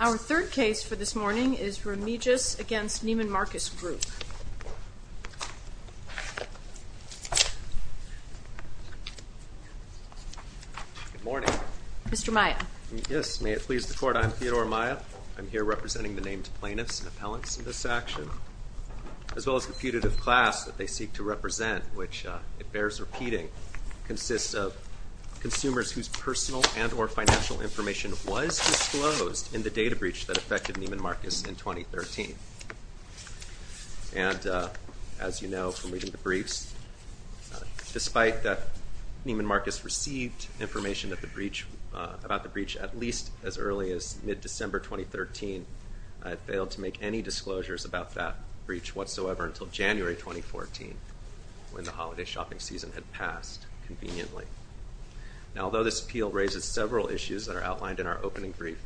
Our third case for this morning is Remijas v. Neiman Marcus Group. Good morning. Mr. Maia. Yes, may it please the Court, I am Theodore Maia. I'm here representing the named plaintiffs and appellants in this action, as well as the putative class that they seek to represent, which, it bears repeating, consists of consumers whose personal and or financial information was disclosed in the data breach that affected Neiman Marcus in 2013. And, as you know from reading the briefs, despite that Neiman Marcus received information about the breach at least as early as mid-December 2013, I have failed to make any disclosures about that breach whatsoever until January 2014, when the holiday shopping season had passed conveniently. Now, although this appeal raises several issues that are outlined in our opening brief,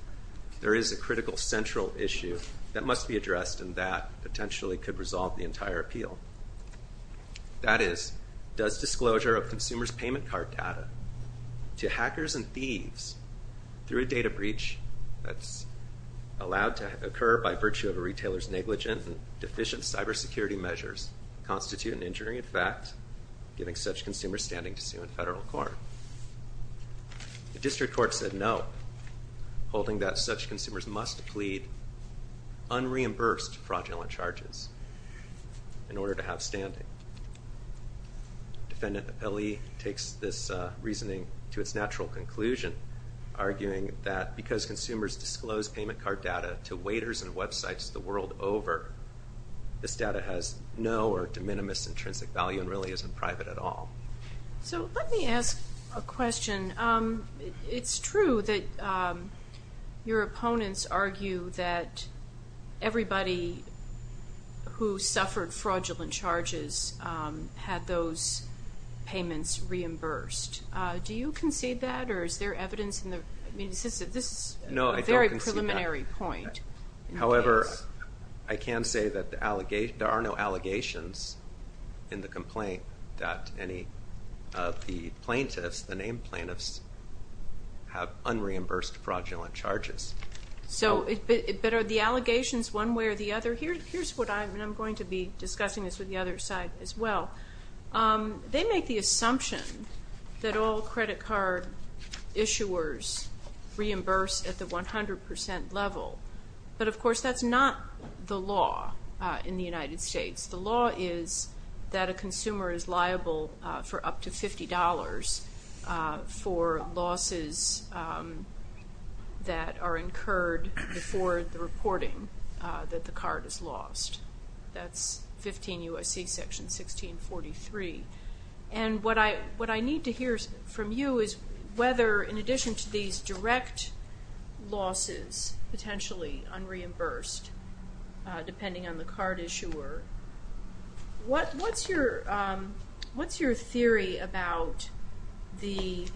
there is a critical central issue that must be addressed, and that potentially could resolve the entire appeal. That is, does disclosure of consumers' payment card data to hackers and thieves through a data breach that's allowed to occur by virtue of a retailer's negligent and deficient cybersecurity measures constitute an injury in fact, giving such consumers standing to sue in federal court? The district court said no, holding that such consumers must plead unreimbursed fraudulent charges in order to have standing. Defendant Apelli takes this reasoning to its natural conclusion, arguing that because consumers disclose payment card data to waiters and websites the world over, this data has no or de minimis intrinsic value and really isn't private at all. So let me ask a question. It's true that your opponents argue that everybody who suffered fraudulent charges had those payments reimbursed. Do you concede that, or is there evidence in the, I mean, this is a very preliminary point. However, I can say that there are no allegations in the complaint that any of the plaintiffs, the named plaintiffs, have unreimbursed fraudulent charges. So, but are the allegations one way or the other? Here's what I'm going to be discussing this with the other side as well. They make the assumption that all credit card issuers reimburse at the 100% level. But, of course, that's not the law in the United States. The law is that a consumer is liable for up to $50 for losses that are incurred before the reporting that the card is lost. That's 15 U.S.C. Section 1643. And what I need to hear from you is whether, in addition to these direct losses, potentially unreimbursed, depending on the card issuer, what's your theory about the,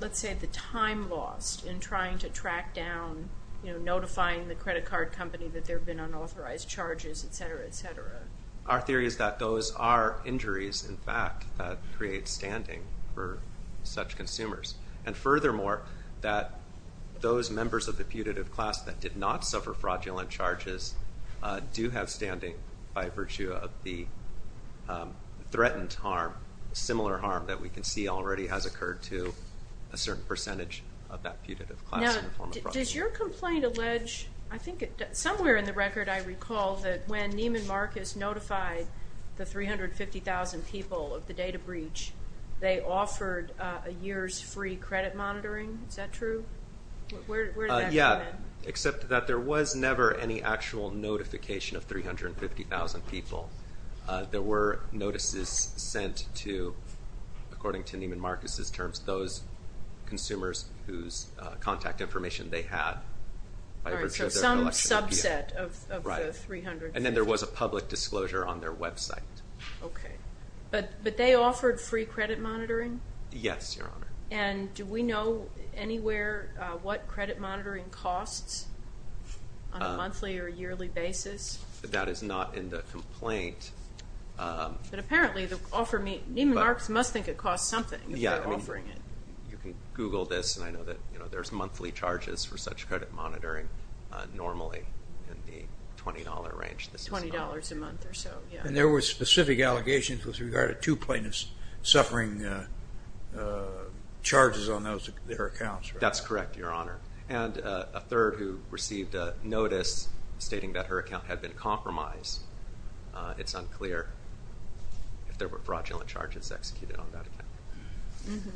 let's say, the time lost in trying to track down, you know, notifying the credit card company that there have been unauthorized charges, et cetera, et cetera? Our theory is that those are injuries, in fact, that create standing for such consumers. And furthermore, that those members of the putative class that did not suffer fraudulent charges do have standing by virtue of the threatened harm, similar harm that we can see already has occurred to a certain percentage of that putative class in the form of fraud. Now, does your complaint allege, I think somewhere in the record I recall, that when Neiman Marcus notified the 350,000 people of the data breach, they offered a year's free credit monitoring? Is that true? Where did that come in? Yeah, except that there was never any actual notification of 350,000 people. There were notices sent to, according to Neiman Marcus's terms, those consumers whose contact information they had. All right, so some subset of the 350. Right. And then there was a public disclosure on their website. Okay. But they offered free credit monitoring? Yes, Your Honor. And do we know anywhere what credit monitoring costs on a monthly or yearly basis? That is not in the complaint. But apparently the offer, Neiman Marcus must think it costs something if they're offering it. You can Google this, and I know that there's monthly charges for such credit monitoring normally in the $20 range. $20 a month or so, yeah. And there were specific allegations with regard to two plaintiffs suffering charges on their accounts, right? That's correct, Your Honor. And a third who received a notice stating that her account had been compromised. It's unclear if there were fraudulent charges executed on that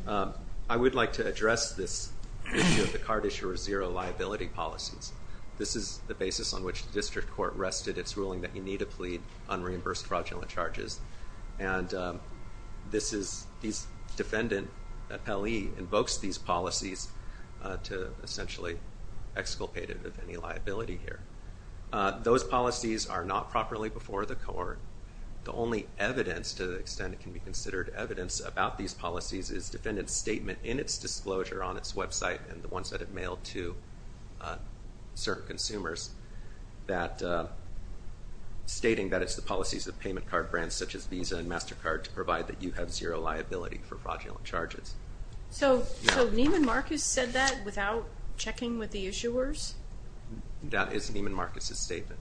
account. I would like to address this issue of the card issuer's zero liability policies. This is the basis on which the district court rested its ruling that you need to plead unreimbursed fraudulent charges. And this is the defendant, Pelley, invokes these policies to essentially exculpate him of any liability here. Those policies are not properly before the court. The only evidence to the extent it can be considered evidence about these policies is defendant's statement in its disclosure on its website and the ones that it mailed to certain consumers stating that it's the policies of payment card brands such as Visa and MasterCard to provide that you have zero liability for fraudulent charges. So Neiman Marcus said that without checking with the issuers? That is Neiman Marcus's statement.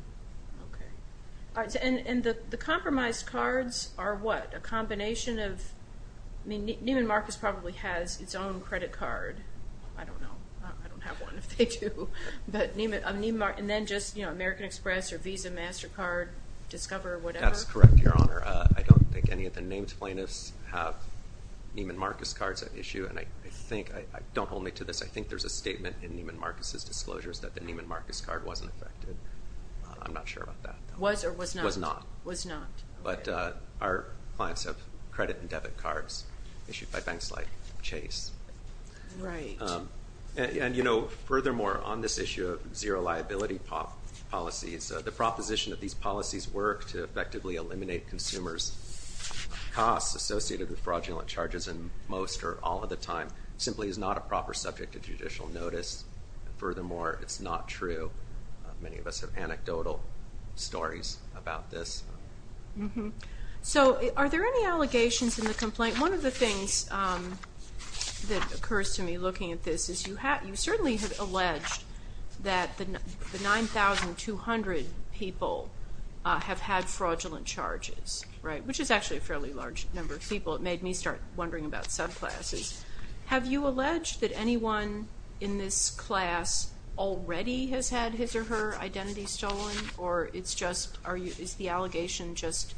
Okay. And the compromised cards are what? A combination of – I mean, Neiman Marcus probably has its own credit card. I don't know. I don't have one if they do. But Neiman Marcus – and then just, you know, American Express or Visa, MasterCard, Discover, whatever? That's correct, Your Honor. I don't think any of the named plaintiffs have Neiman Marcus cards at issue. And I think – don't hold me to this. I think there's a statement in Neiman Marcus's disclosures that the Neiman Marcus card wasn't affected. I'm not sure about that. Was or was not? Was not. Was not. But our clients have credit and debit cards issued by banks like Chase. Right. And, you know, furthermore, on this issue of zero liability policies, the proposition that these policies work to effectively eliminate consumers' costs associated with fraudulent charges and most or all of the time simply is not a proper subject of judicial notice. Furthermore, it's not true. Many of us have anecdotal stories about this. So are there any allegations in the complaint? One of the things that occurs to me looking at this is you certainly have alleged that the 9,200 people have had fraudulent charges, right, which is actually a fairly large number of people. It made me start wondering about subclasses. Have you alleged that anyone in this class already has had his or her identity stolen, or is the allegation just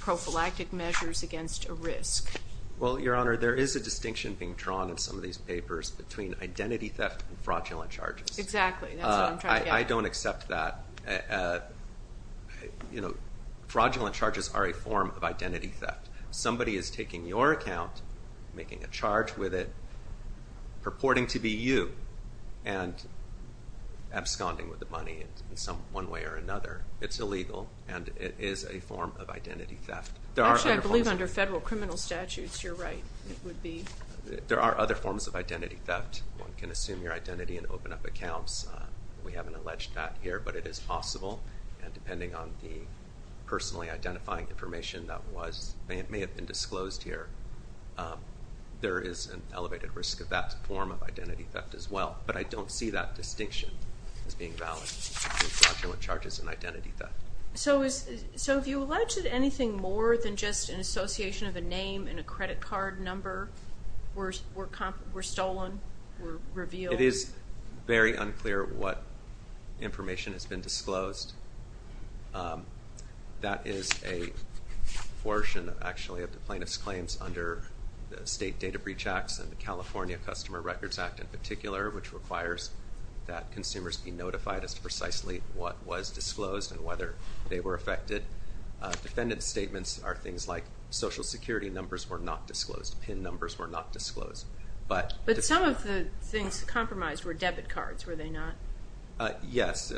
prophylactic measures against a risk? Well, Your Honor, there is a distinction being drawn in some of these papers between identity theft and fraudulent charges. Exactly. That's what I'm trying to get at. I don't accept that. You know, fraudulent charges are a form of identity theft. Somebody is taking your account, making a charge with it, purporting to be you, and absconding with the money in one way or another. It's illegal, and it is a form of identity theft. Actually, I believe under federal criminal statutes, you're right, it would be. There are other forms of identity theft. One can assume your identity and open up accounts. We haven't alleged that here, but it is possible, and depending on the personally identifying information that may have been disclosed here, there is an elevated risk of that form of identity theft as well. But I don't see that distinction as being valid in fraudulent charges and identity theft. So have you alleged anything more than just an association of a name and a credit card number were stolen, were revealed? It is very unclear what information has been disclosed. That is a portion, actually, of the plaintiff's claims under the State Data Breach Acts and the California Customer Records Act in particular, which requires that consumers be notified as to precisely what was disclosed and whether they were affected. Defendant's statements are things like social security numbers were not disclosed, PIN numbers were not disclosed. But some of the things compromised were debit cards, were they not? Yes.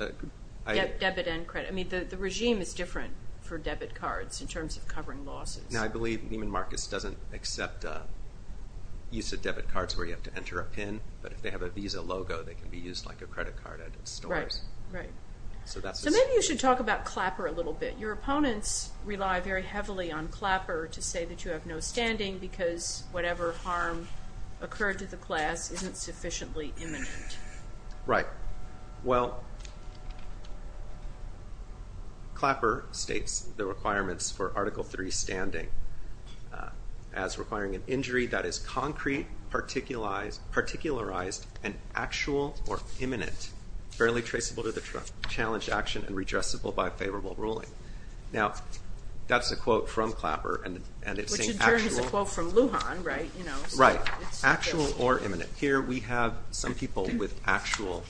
Debit and credit. I mean, the regime is different for debit cards in terms of covering losses. Now, I believe Neiman Marcus doesn't accept use of debit cards where you have to enter a PIN, but if they have a Visa logo, they can be used like a credit card at a store. Right. So maybe you should talk about Clapper a little bit. Your opponents rely very heavily on Clapper to say that you have no standing because whatever harm occurred to the class isn't sufficiently imminent. Right. Well, Clapper states the requirements for Article III standing as requiring an injury that is concrete, particularized, and actual or imminent, barely traceable to the challenged action, and redressable by favorable ruling. Now, that's a quote from Clapper, and it's saying actual. Which in turn is a quote from Lujan, right? Right. Actual or imminent. Here we have some people with actual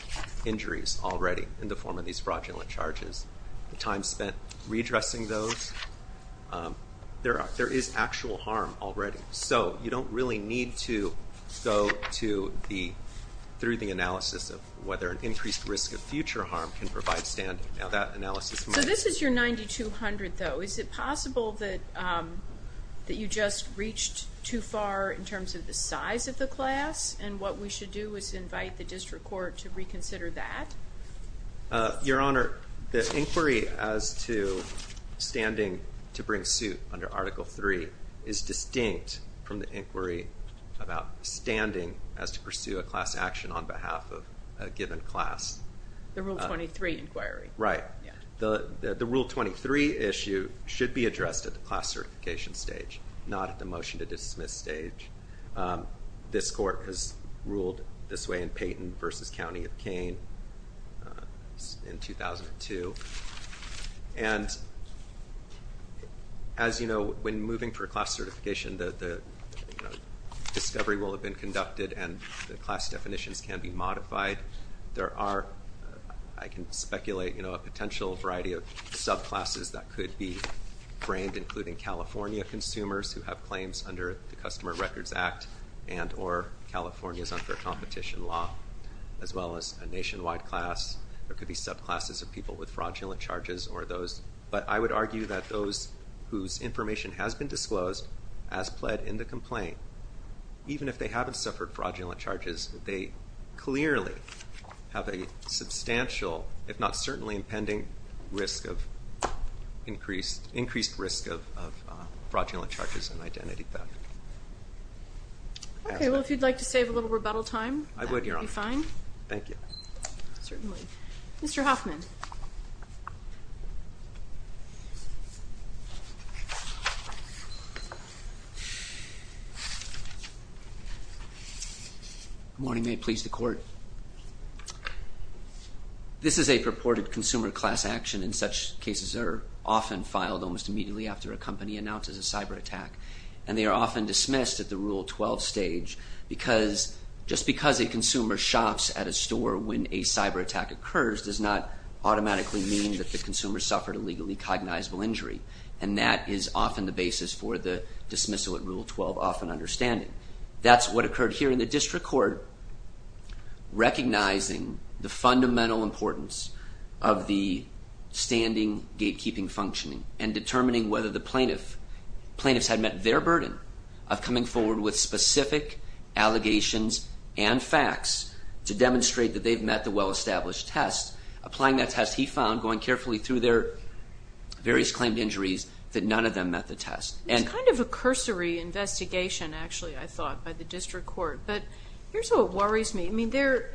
injuries already in the form of these fraudulent charges. The time spent redressing those, there is actual harm already. So you don't really need to go through the analysis of whether an increased risk of future harm can provide standing. Now, that analysis might. So this is your 9200, though. Is it possible that you just reached too far in terms of the size of the class, and what we should do is invite the district court to reconsider that? Your Honor, the inquiry as to standing to bring suit under Article III is distinct from the inquiry about standing as to pursue a class action on behalf of a given class. The Rule 23 inquiry. Right. The Rule 23 issue should be addressed at the class certification stage, not at the motion to dismiss stage. This court has ruled this way in Payton v. County of Kane in 2002. And as you know, when moving for class certification, the discovery will have been conducted and the class definitions can be modified. There are, I can speculate, a potential variety of subclasses that could be framed, including California consumers who have claims under the Customer Records Act and or California's unfair competition law, as well as a nationwide class. There could be subclasses of people with fraudulent charges or those. But I would argue that those whose information has been disclosed as pled in the complaint, even if they haven't suffered fraudulent charges, they clearly have a substantial, if not certainly impending, increased risk of fraudulent charges and identity theft. Okay. Well, if you'd like to save a little rebuttal time. I would, Your Honor. That would be fine. Thank you. Certainly. Mr. Hoffman. Good morning. May it please the Court. This is a purported consumer class action. In such cases, they're often filed almost immediately after a company announces a cyber attack. And they are often dismissed at the Rule 12 stage because just because a consumer shops at a store when a cyber attack occurs does not automatically mean that the consumer suffered a legally cognizable injury. And that is often the basis for the dismissal at Rule 12 often understanding. That's what occurred here in the District Court. Recognizing the fundamental importance of the standing gatekeeping functioning and determining whether the plaintiffs had met their burden of coming forward with specific allegations and facts to demonstrate that they've met the well-established test. Applying that test, he found, going carefully through their various claimed injuries, that none of them met the test. It's kind of a cursory investigation, actually, I thought, by the District Court. But here's what worries me. I mean, there's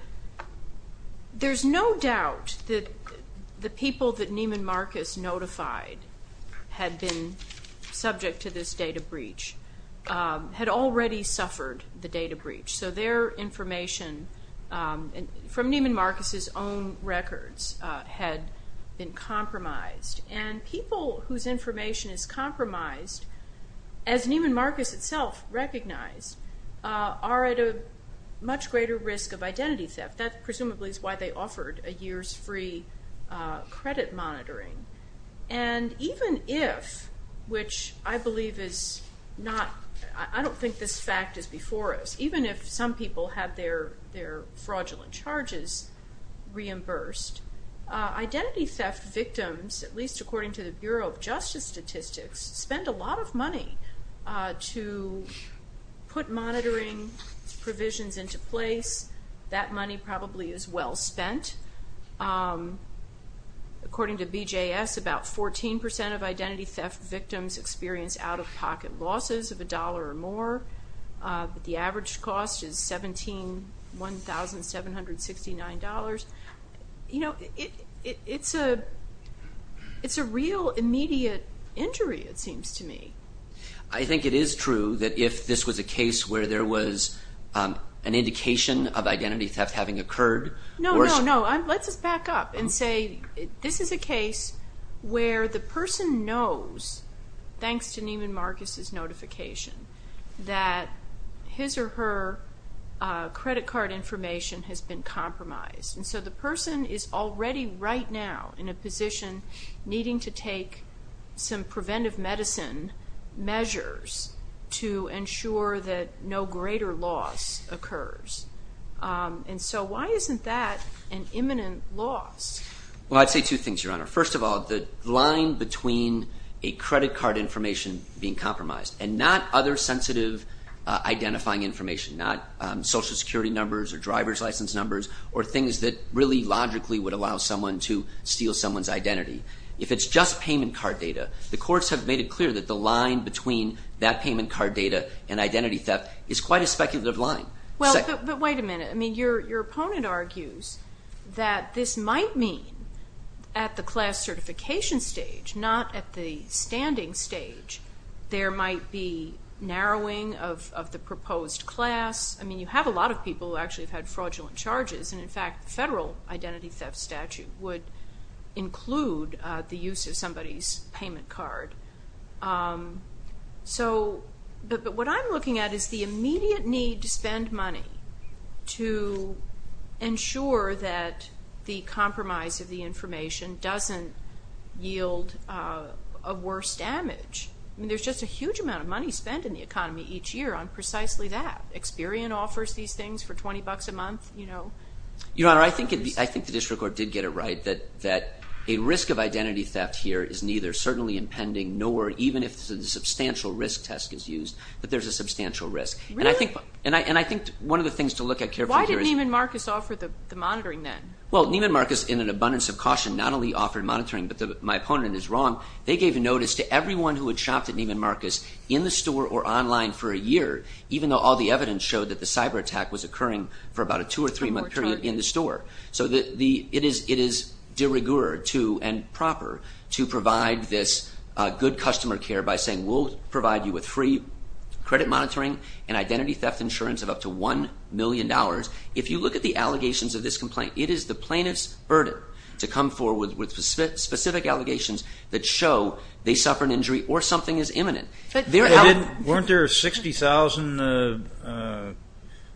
no doubt that the people that Neiman Marcus notified had been subject to this data breach had already suffered the data breach. So their information from Neiman Marcus's own records had been compromised. And people whose information is compromised, as Neiman Marcus itself recognized, are at a much greater risk of identity theft. That presumably is why they offered a year's free credit monitoring. And even if, which I believe is not, I don't think this fact is before us, even if some people had their fraudulent charges reimbursed, identity theft victims, at least according to the Bureau of Justice Statistics, spend a lot of money to put monitoring provisions into place. That money probably is well spent. According to BJS, about 14% of identity theft victims experience out-of-pocket losses of $1 or more. The average cost is $17,769. You know, it's a real immediate injury, it seems to me. I think it is true that if this was a case where there was an indication of identity theft having occurred. No, no, no. Let's just back up and say this is a case where the person knows, thanks to Neiman Marcus' notification, that his or her credit card information has been compromised. And so the person is already right now in a position needing to take some preventive medicine measures to ensure that no greater loss occurs. And so why isn't that an imminent loss? Well, I'd say two things, Your Honor. First of all, the line between a credit card information being compromised and not other sensitive identifying information, not Social Security numbers or driver's license numbers or things that really logically would allow someone to steal someone's identity. If it's just payment card data, the courts have made it clear that the line between that payment card data and identity theft is quite a speculative line. Well, but wait a minute. I mean, your opponent argues that this might mean at the class certification stage, not at the standing stage, there might be narrowing of the proposed class. I mean, you have a lot of people who actually have had fraudulent charges, and, in fact, the federal identity theft statute would include the use of somebody's payment card. So what I'm looking at is the immediate need to spend money to ensure that the compromise of the information doesn't yield a worse damage. I mean, there's just a huge amount of money spent in the economy each year on precisely that. Experian offers these things for $20 a month, you know. Your Honor, I think the district court did get it right that a risk of identity theft here is neither. It's certainly impending, nor, even if the substantial risk test is used, that there's a substantial risk. Really? And I think one of the things to look at carefully here is… Why didn't Neiman Marcus offer the monitoring then? Well, Neiman Marcus, in an abundance of caution, not only offered monitoring, but my opponent is wrong. They gave notice to everyone who had shopped at Neiman Marcus in the store or online for a year, even though all the evidence showed that the cyberattack was occurring for about a two- or three-month period in the store. So it is de rigueur and proper to provide this good customer care by saying, we'll provide you with free credit monitoring and identity theft insurance of up to $1 million. If you look at the allegations of this complaint, it is the plaintiff's burden to come forward with specific allegations that show they suffered an injury or something is imminent. Weren't there 60,000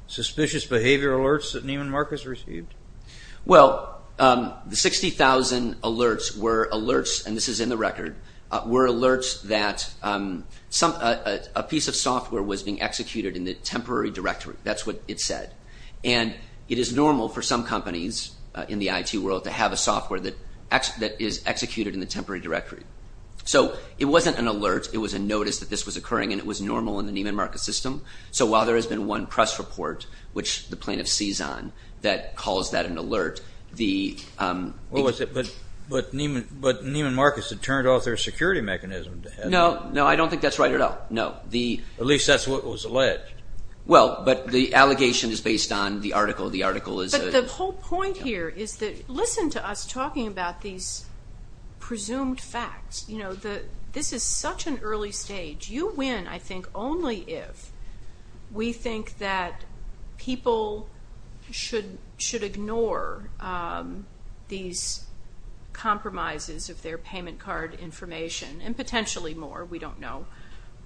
suspicious behavior alerts that Neiman Marcus received? Well, the 60,000 alerts were alerts, and this is in the record, were alerts that a piece of software was being executed in the temporary directory. That's what it said. And it is normal for some companies in the IT world to have a software that is executed in the temporary directory. So it wasn't an alert. It was a notice that this was occurring, and it was normal in the Neiman Marcus system. So while there has been one press report, which the plaintiff sees on, that calls that an alert. But Neiman Marcus had turned off their security mechanism. No, I don't think that's right at all, no. At least that's what was alleged. Well, but the allegation is based on the article. But the whole point here is that listen to us talking about these presumed facts. This is such an early stage. You win, I think, only if we think that people should ignore these compromises of their payment card information, and potentially more, we don't know,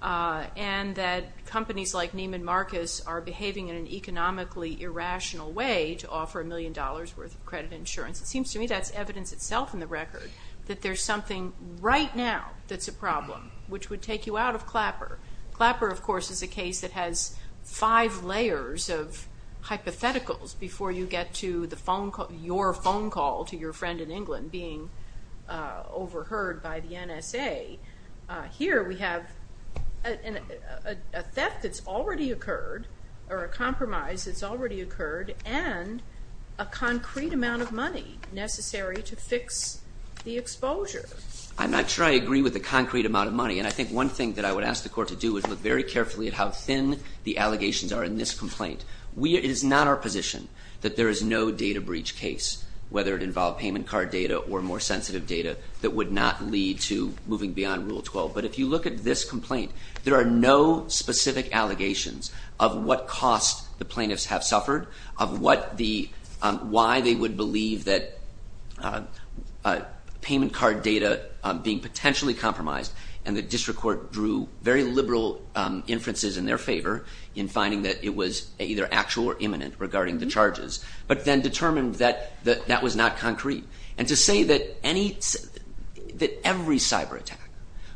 and that companies like Neiman Marcus are behaving in an economically irrational way to offer a million dollars' worth of credit insurance. It seems to me that's evidence itself in the record, that there's something right now that's a problem, which would take you out of Clapper. Clapper, of course, is a case that has five layers of hypotheticals before you get to your phone call to your friend in England being overheard by the NSA. Here we have a theft that's already occurred, or a compromise that's already occurred, and a concrete amount of money necessary to fix the exposure. I'm not sure I agree with the concrete amount of money. And I think one thing that I would ask the court to do is look very carefully at how thin the allegations are in this complaint. It is not our position that there is no data breach case, whether it involved payment card data or more sensitive data, that would not lead to moving beyond Rule 12. But if you look at this complaint, there are no specific allegations of what cost the plaintiffs have suffered, of why they would believe that payment card data being potentially compromised, and the district court drew very liberal inferences in their favor in finding that it was either actual or imminent regarding the charges, but then determined that that was not concrete. And to say that every cyber attack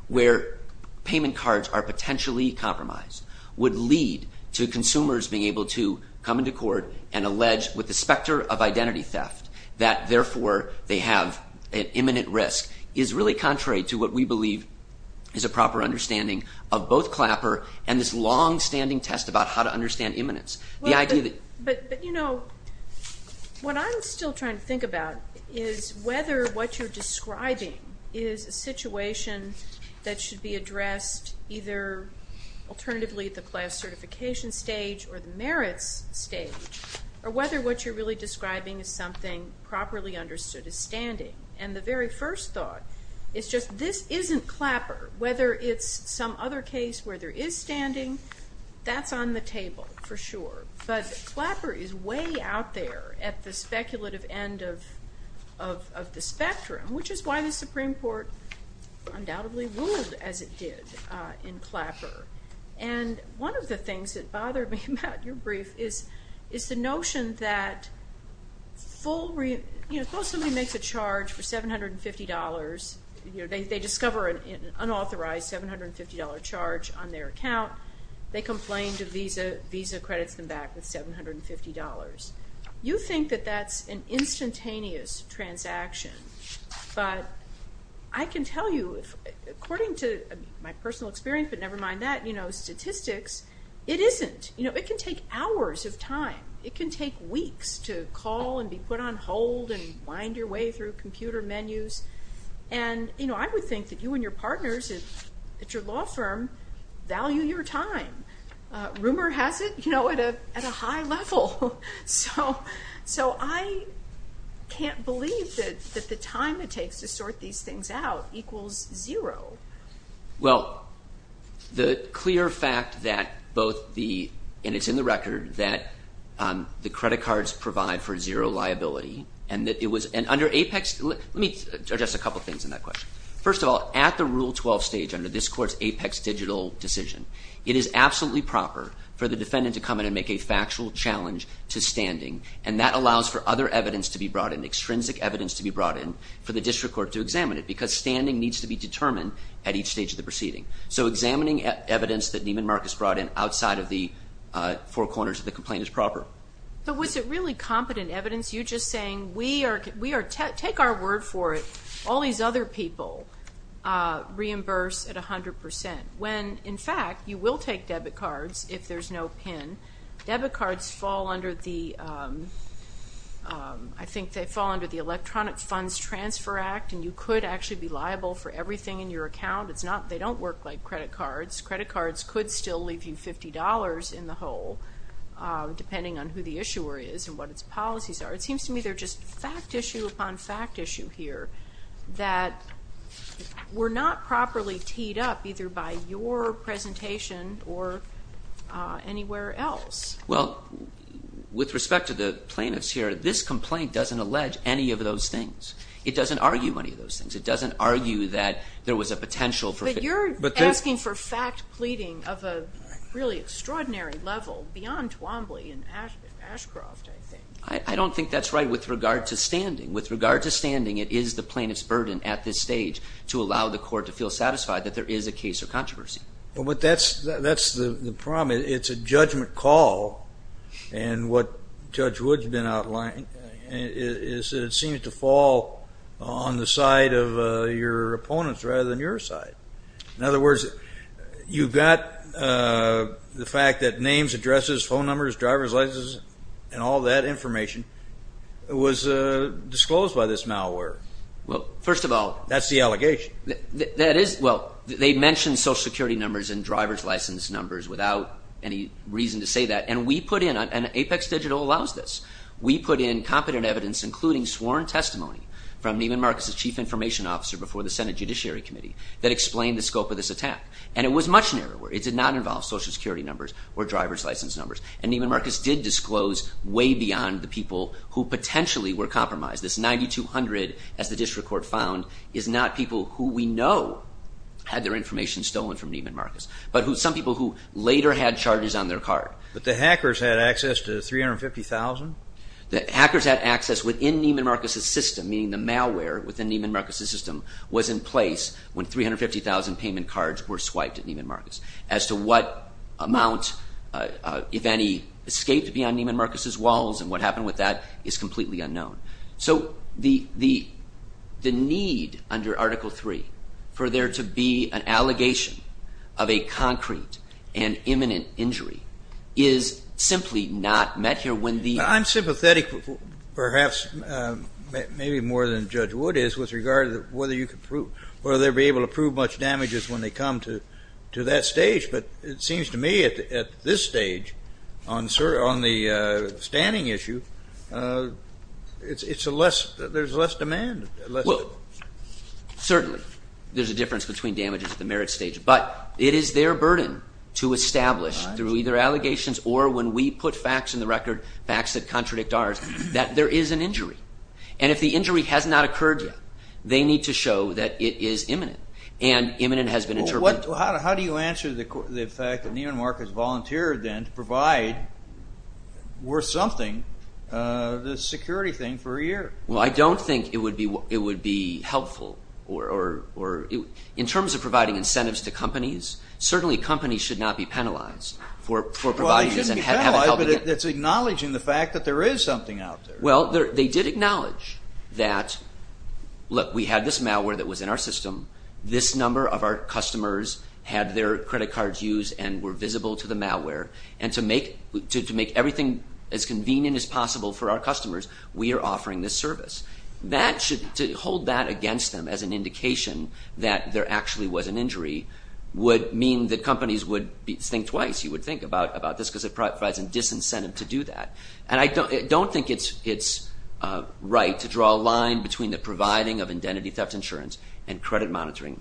where payment cards are potentially compromised would lead to consumers being able to come into court and allege, with the specter of identity theft, that therefore they have an imminent risk is really contrary to what we believe is a proper understanding of both Clapper and this longstanding test about how to understand imminence. But, you know, what I'm still trying to think about is whether what you're describing is a situation that should be addressed either alternatively at the class certification stage or the merits stage, or whether what you're really describing is something properly understood as standing. And the very first thought is just this isn't Clapper, whether it's some other case where there is standing, that's on the table for sure. But Clapper is way out there at the speculative end of the spectrum, which is why the Supreme Court undoubtedly ruled as it did in Clapper. And one of the things that bothered me about your brief is the notion that, you know, suppose somebody makes a charge for $750. They discover an unauthorized $750 charge on their account. They complain to Visa. Visa credits them back with $750. You think that that's an instantaneous transaction, but I can tell you, according to my personal experience, but never mind that, you know, statistics, it isn't. You know, it can take hours of time. It can take weeks to call and be put on hold and wind your way through computer menus. And, you know, I would think that you and your partners at your law firm value your time. Rumor has it, you know, at a high level. So I can't believe that the time it takes to sort these things out equals zero. Well, the clear fact that both the ñ and it's in the record that the credit cards provide for zero liability and that it was ñ and under APEX ñ let me address a couple things in that question. First of all, at the Rule 12 stage, under this court's APEX digital decision, it is absolutely proper for the defendant to come in and make a factual challenge to standing, and that allows for other evidence to be brought in, extrinsic evidence to be brought in for the district court to examine it because standing needs to be determined at each stage of the proceeding. So examining evidence that Neiman Marcus brought in outside of the four corners of the complaint is proper. But was it really competent evidence? You're just saying we are ñ take our word for it, all these other people reimburse at 100 percent, when, in fact, you will take debit cards if there's no PIN. Debit cards fall under the ñ I think they fall under the Electronic Funds Transfer Act, and you could actually be liable for everything in your account. It's not ñ they don't work like credit cards. Credit cards could still leave you $50 in the hole, depending on who the issuer is and what its policies are. It seems to me they're just fact issue upon fact issue here that were not properly teed up either by your presentation or anywhere else. Well, with respect to the plaintiffs here, this complaint doesn't allege any of those things. It doesn't argue any of those things. It doesn't argue that there was a potential for ñ But you're asking for fact pleading of a really extraordinary level beyond Twombly and Ashcroft, I think. I don't think that's right with regard to standing. With regard to standing, it is the plaintiff's burden at this stage to allow the court to feel satisfied that there is a case or controversy. But that's the problem. It's a judgment call, and what Judge Wood's been outlining is that it seems to fall on the side of your opponents rather than your side. In other words, you've got the fact that names, addresses, phone numbers, driver's licenses, and all that information was disclosed by this malware. Well, first of all ñ That's the allegation. That is ñ Well, they mentioned Social Security numbers and driver's license numbers without any reason to say that, and we put in ñ And Apex Digital allows this. We put in competent evidence, including sworn testimony from Neiman Marcus's chief information officer before the Senate Judiciary Committee that explained the scope of this attack. And it was much narrower. It did not involve Social Security numbers or driver's license numbers. And Neiman Marcus did disclose way beyond the people who potentially were compromised. This 9200, as the district court found, is not people who we know had their information stolen from Neiman Marcus, but some people who later had charges on their card. But the hackers had access to 350,000? The hackers had access within Neiman Marcus's system, meaning the malware within Neiman Marcus's system was in place when 350,000 payment cards were swiped at Neiman Marcus. And what happened with that is completely unknown. So the need under Article III for there to be an allegation of a concrete and imminent injury is simply not met here when the ñ I'm sympathetic perhaps maybe more than Judge Wood is with regard to whether you could prove ñ whether they'd be able to prove much damages when they come to that stage. But it seems to me at this stage on the standing issue, it's a less ñ there's less demand. Well, certainly there's a difference between damages at the merit stage. But it is their burden to establish through either allegations or when we put facts in the record, facts that contradict ours, that there is an injury. And if the injury has not occurred yet, they need to show that it is imminent. And imminent has been interpreted. How do you answer the fact that Neiman Marcus volunteered then to provide worth something, this security thing, for a year? Well, I don't think it would be helpful or ñ in terms of providing incentives to companies, certainly companies should not be penalized for providing this and have it help them. Well, they should be penalized, but it's acknowledging the fact that there is something out there. Well, they did acknowledge that, look, we had this malware that was in our system. This number of our customers had their credit cards used and were visible to the malware. And to make everything as convenient as possible for our customers, we are offering this service. That should ñ to hold that against them as an indication that there actually was an injury would mean that companies would think twice. You would think about this because it provides a disincentive to do that. And I don't think it's right to draw a line between the providing of identity theft insurance and credit monitoring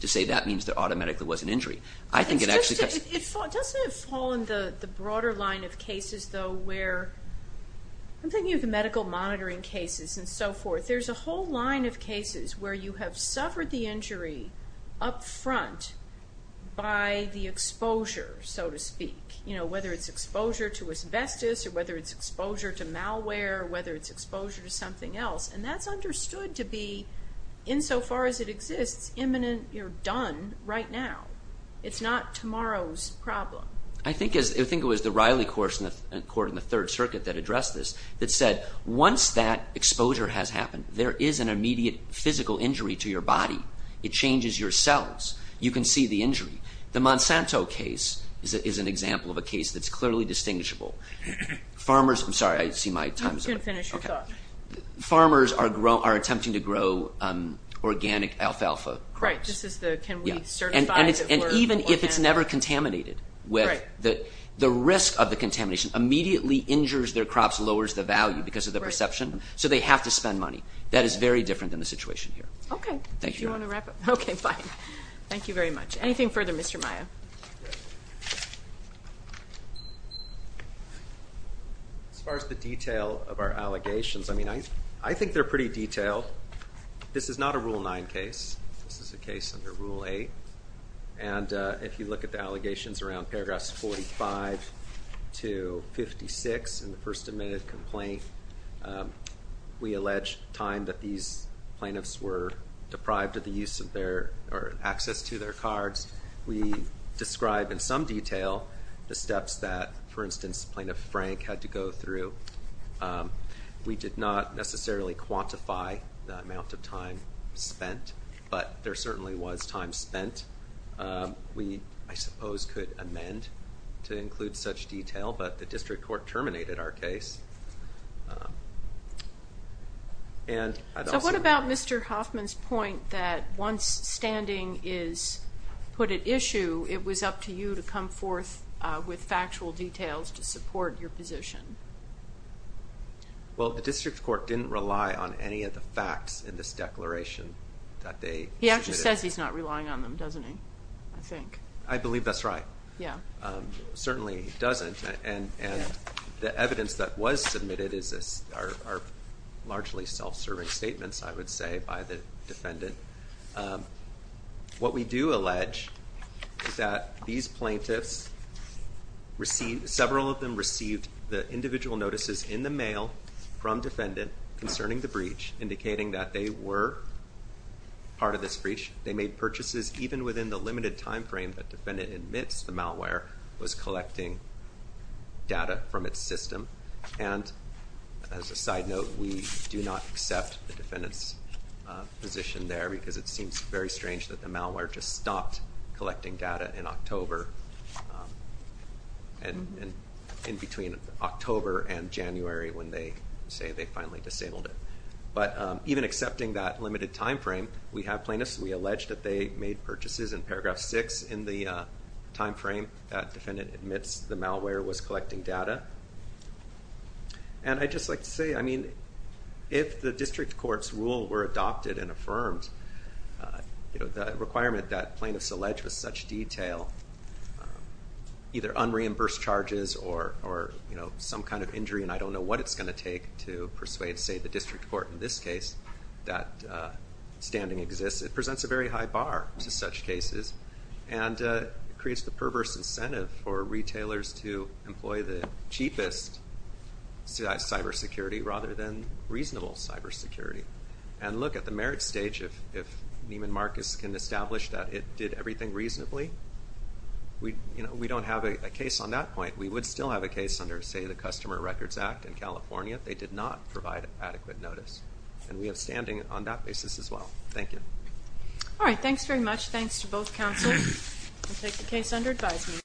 to say that means there automatically was an injury. I think it actually ñ Doesn't it fall in the broader line of cases, though, where ñ I'm thinking of the medical monitoring cases and so forth. There's a whole line of cases where you have suffered the injury up front by the exposure, so to speak, whether it's exposure to asbestos or whether it's exposure to malware or whether it's exposure to something else. And that's understood to be, insofar as it exists, imminent. You're done right now. It's not tomorrow's problem. I think it was the Riley Court in the Third Circuit that addressed this that said, once that exposure has happened, there is an immediate physical injury to your body. It changes your cells. You can see the injury. The Monsanto case is an example of a case that's clearly distinguishable. Farmers ñ I'm sorry. I see my time is up. You can finish your thought. Farmers are attempting to grow organic alfalfa crops. Right. This is the can we certify that we're organic? And even if it's never contaminated, the risk of the contamination immediately injures their crops, lowers the value because of the perception, so they have to spend money. That is very different than the situation here. Okay. Thank you. Do you want to wrap up? Okay, fine. Thank you very much. Anything further, Mr. Maia? As far as the detail of our allegations, I mean, I think they're pretty detailed. This is not a Rule 9 case. This is a case under Rule 8. And if you look at the allegations around paragraphs 45 to 56 in the first admitted complaint, we allege time that these plaintiffs were deprived of the use of their ñ or access to their cards. We describe in some detail the steps that, for instance, Plaintiff Frank had to go through. We did not necessarily quantify the amount of time spent, but there certainly was time spent. We, I suppose, could amend to include such detail, but the district court terminated our case. So what about Mr. Hoffman's point that once standing is put at issue, it was up to you to come forth with factual details to support your position? Well, the district court didn't rely on any of the facts in this declaration that they submitted. He actually says he's not relying on them, doesn't he, I think? I believe that's right. Yeah. And the evidence that was submitted are largely self-serving statements, I would say, by the defendant. What we do allege is that these plaintiffs received ñ several of them received the individual notices in the mail from defendant concerning the breach, indicating that they were part of this breach. They made purchases even within the limited time frame that defendant admits the malware was collecting data from its system. And as a side note, we do not accept the defendant's position there, because it seems very strange that the malware just stopped collecting data in October, in between October and January when they say they finally disabled it. But even accepting that limited time frame, we have plaintiffs. We allege that they made purchases in paragraph 6 in the time frame that defendant admits the malware was collecting data. And I'd just like to say, I mean, if the district court's rule were adopted and affirmed, the requirement that plaintiffs allege with such detail, either unreimbursed charges or some kind of injury, and I don't know what it's going to take to persuade, say, the district court in this case that standing exists, it presents a very high bar to such cases and creates the perverse incentive for retailers to employ the cheapest cybersecurity rather than reasonable cybersecurity. And look, at the merit stage, if Neiman Marcus can establish that it did everything reasonably, we don't have a case on that point. We would still have a case under, say, the Customer Records Act in California. They did not provide adequate notice. And we have standing on that basis as well. Thank you. All right. Thanks very much. Thanks to both counsels. We'll take the case under advisement.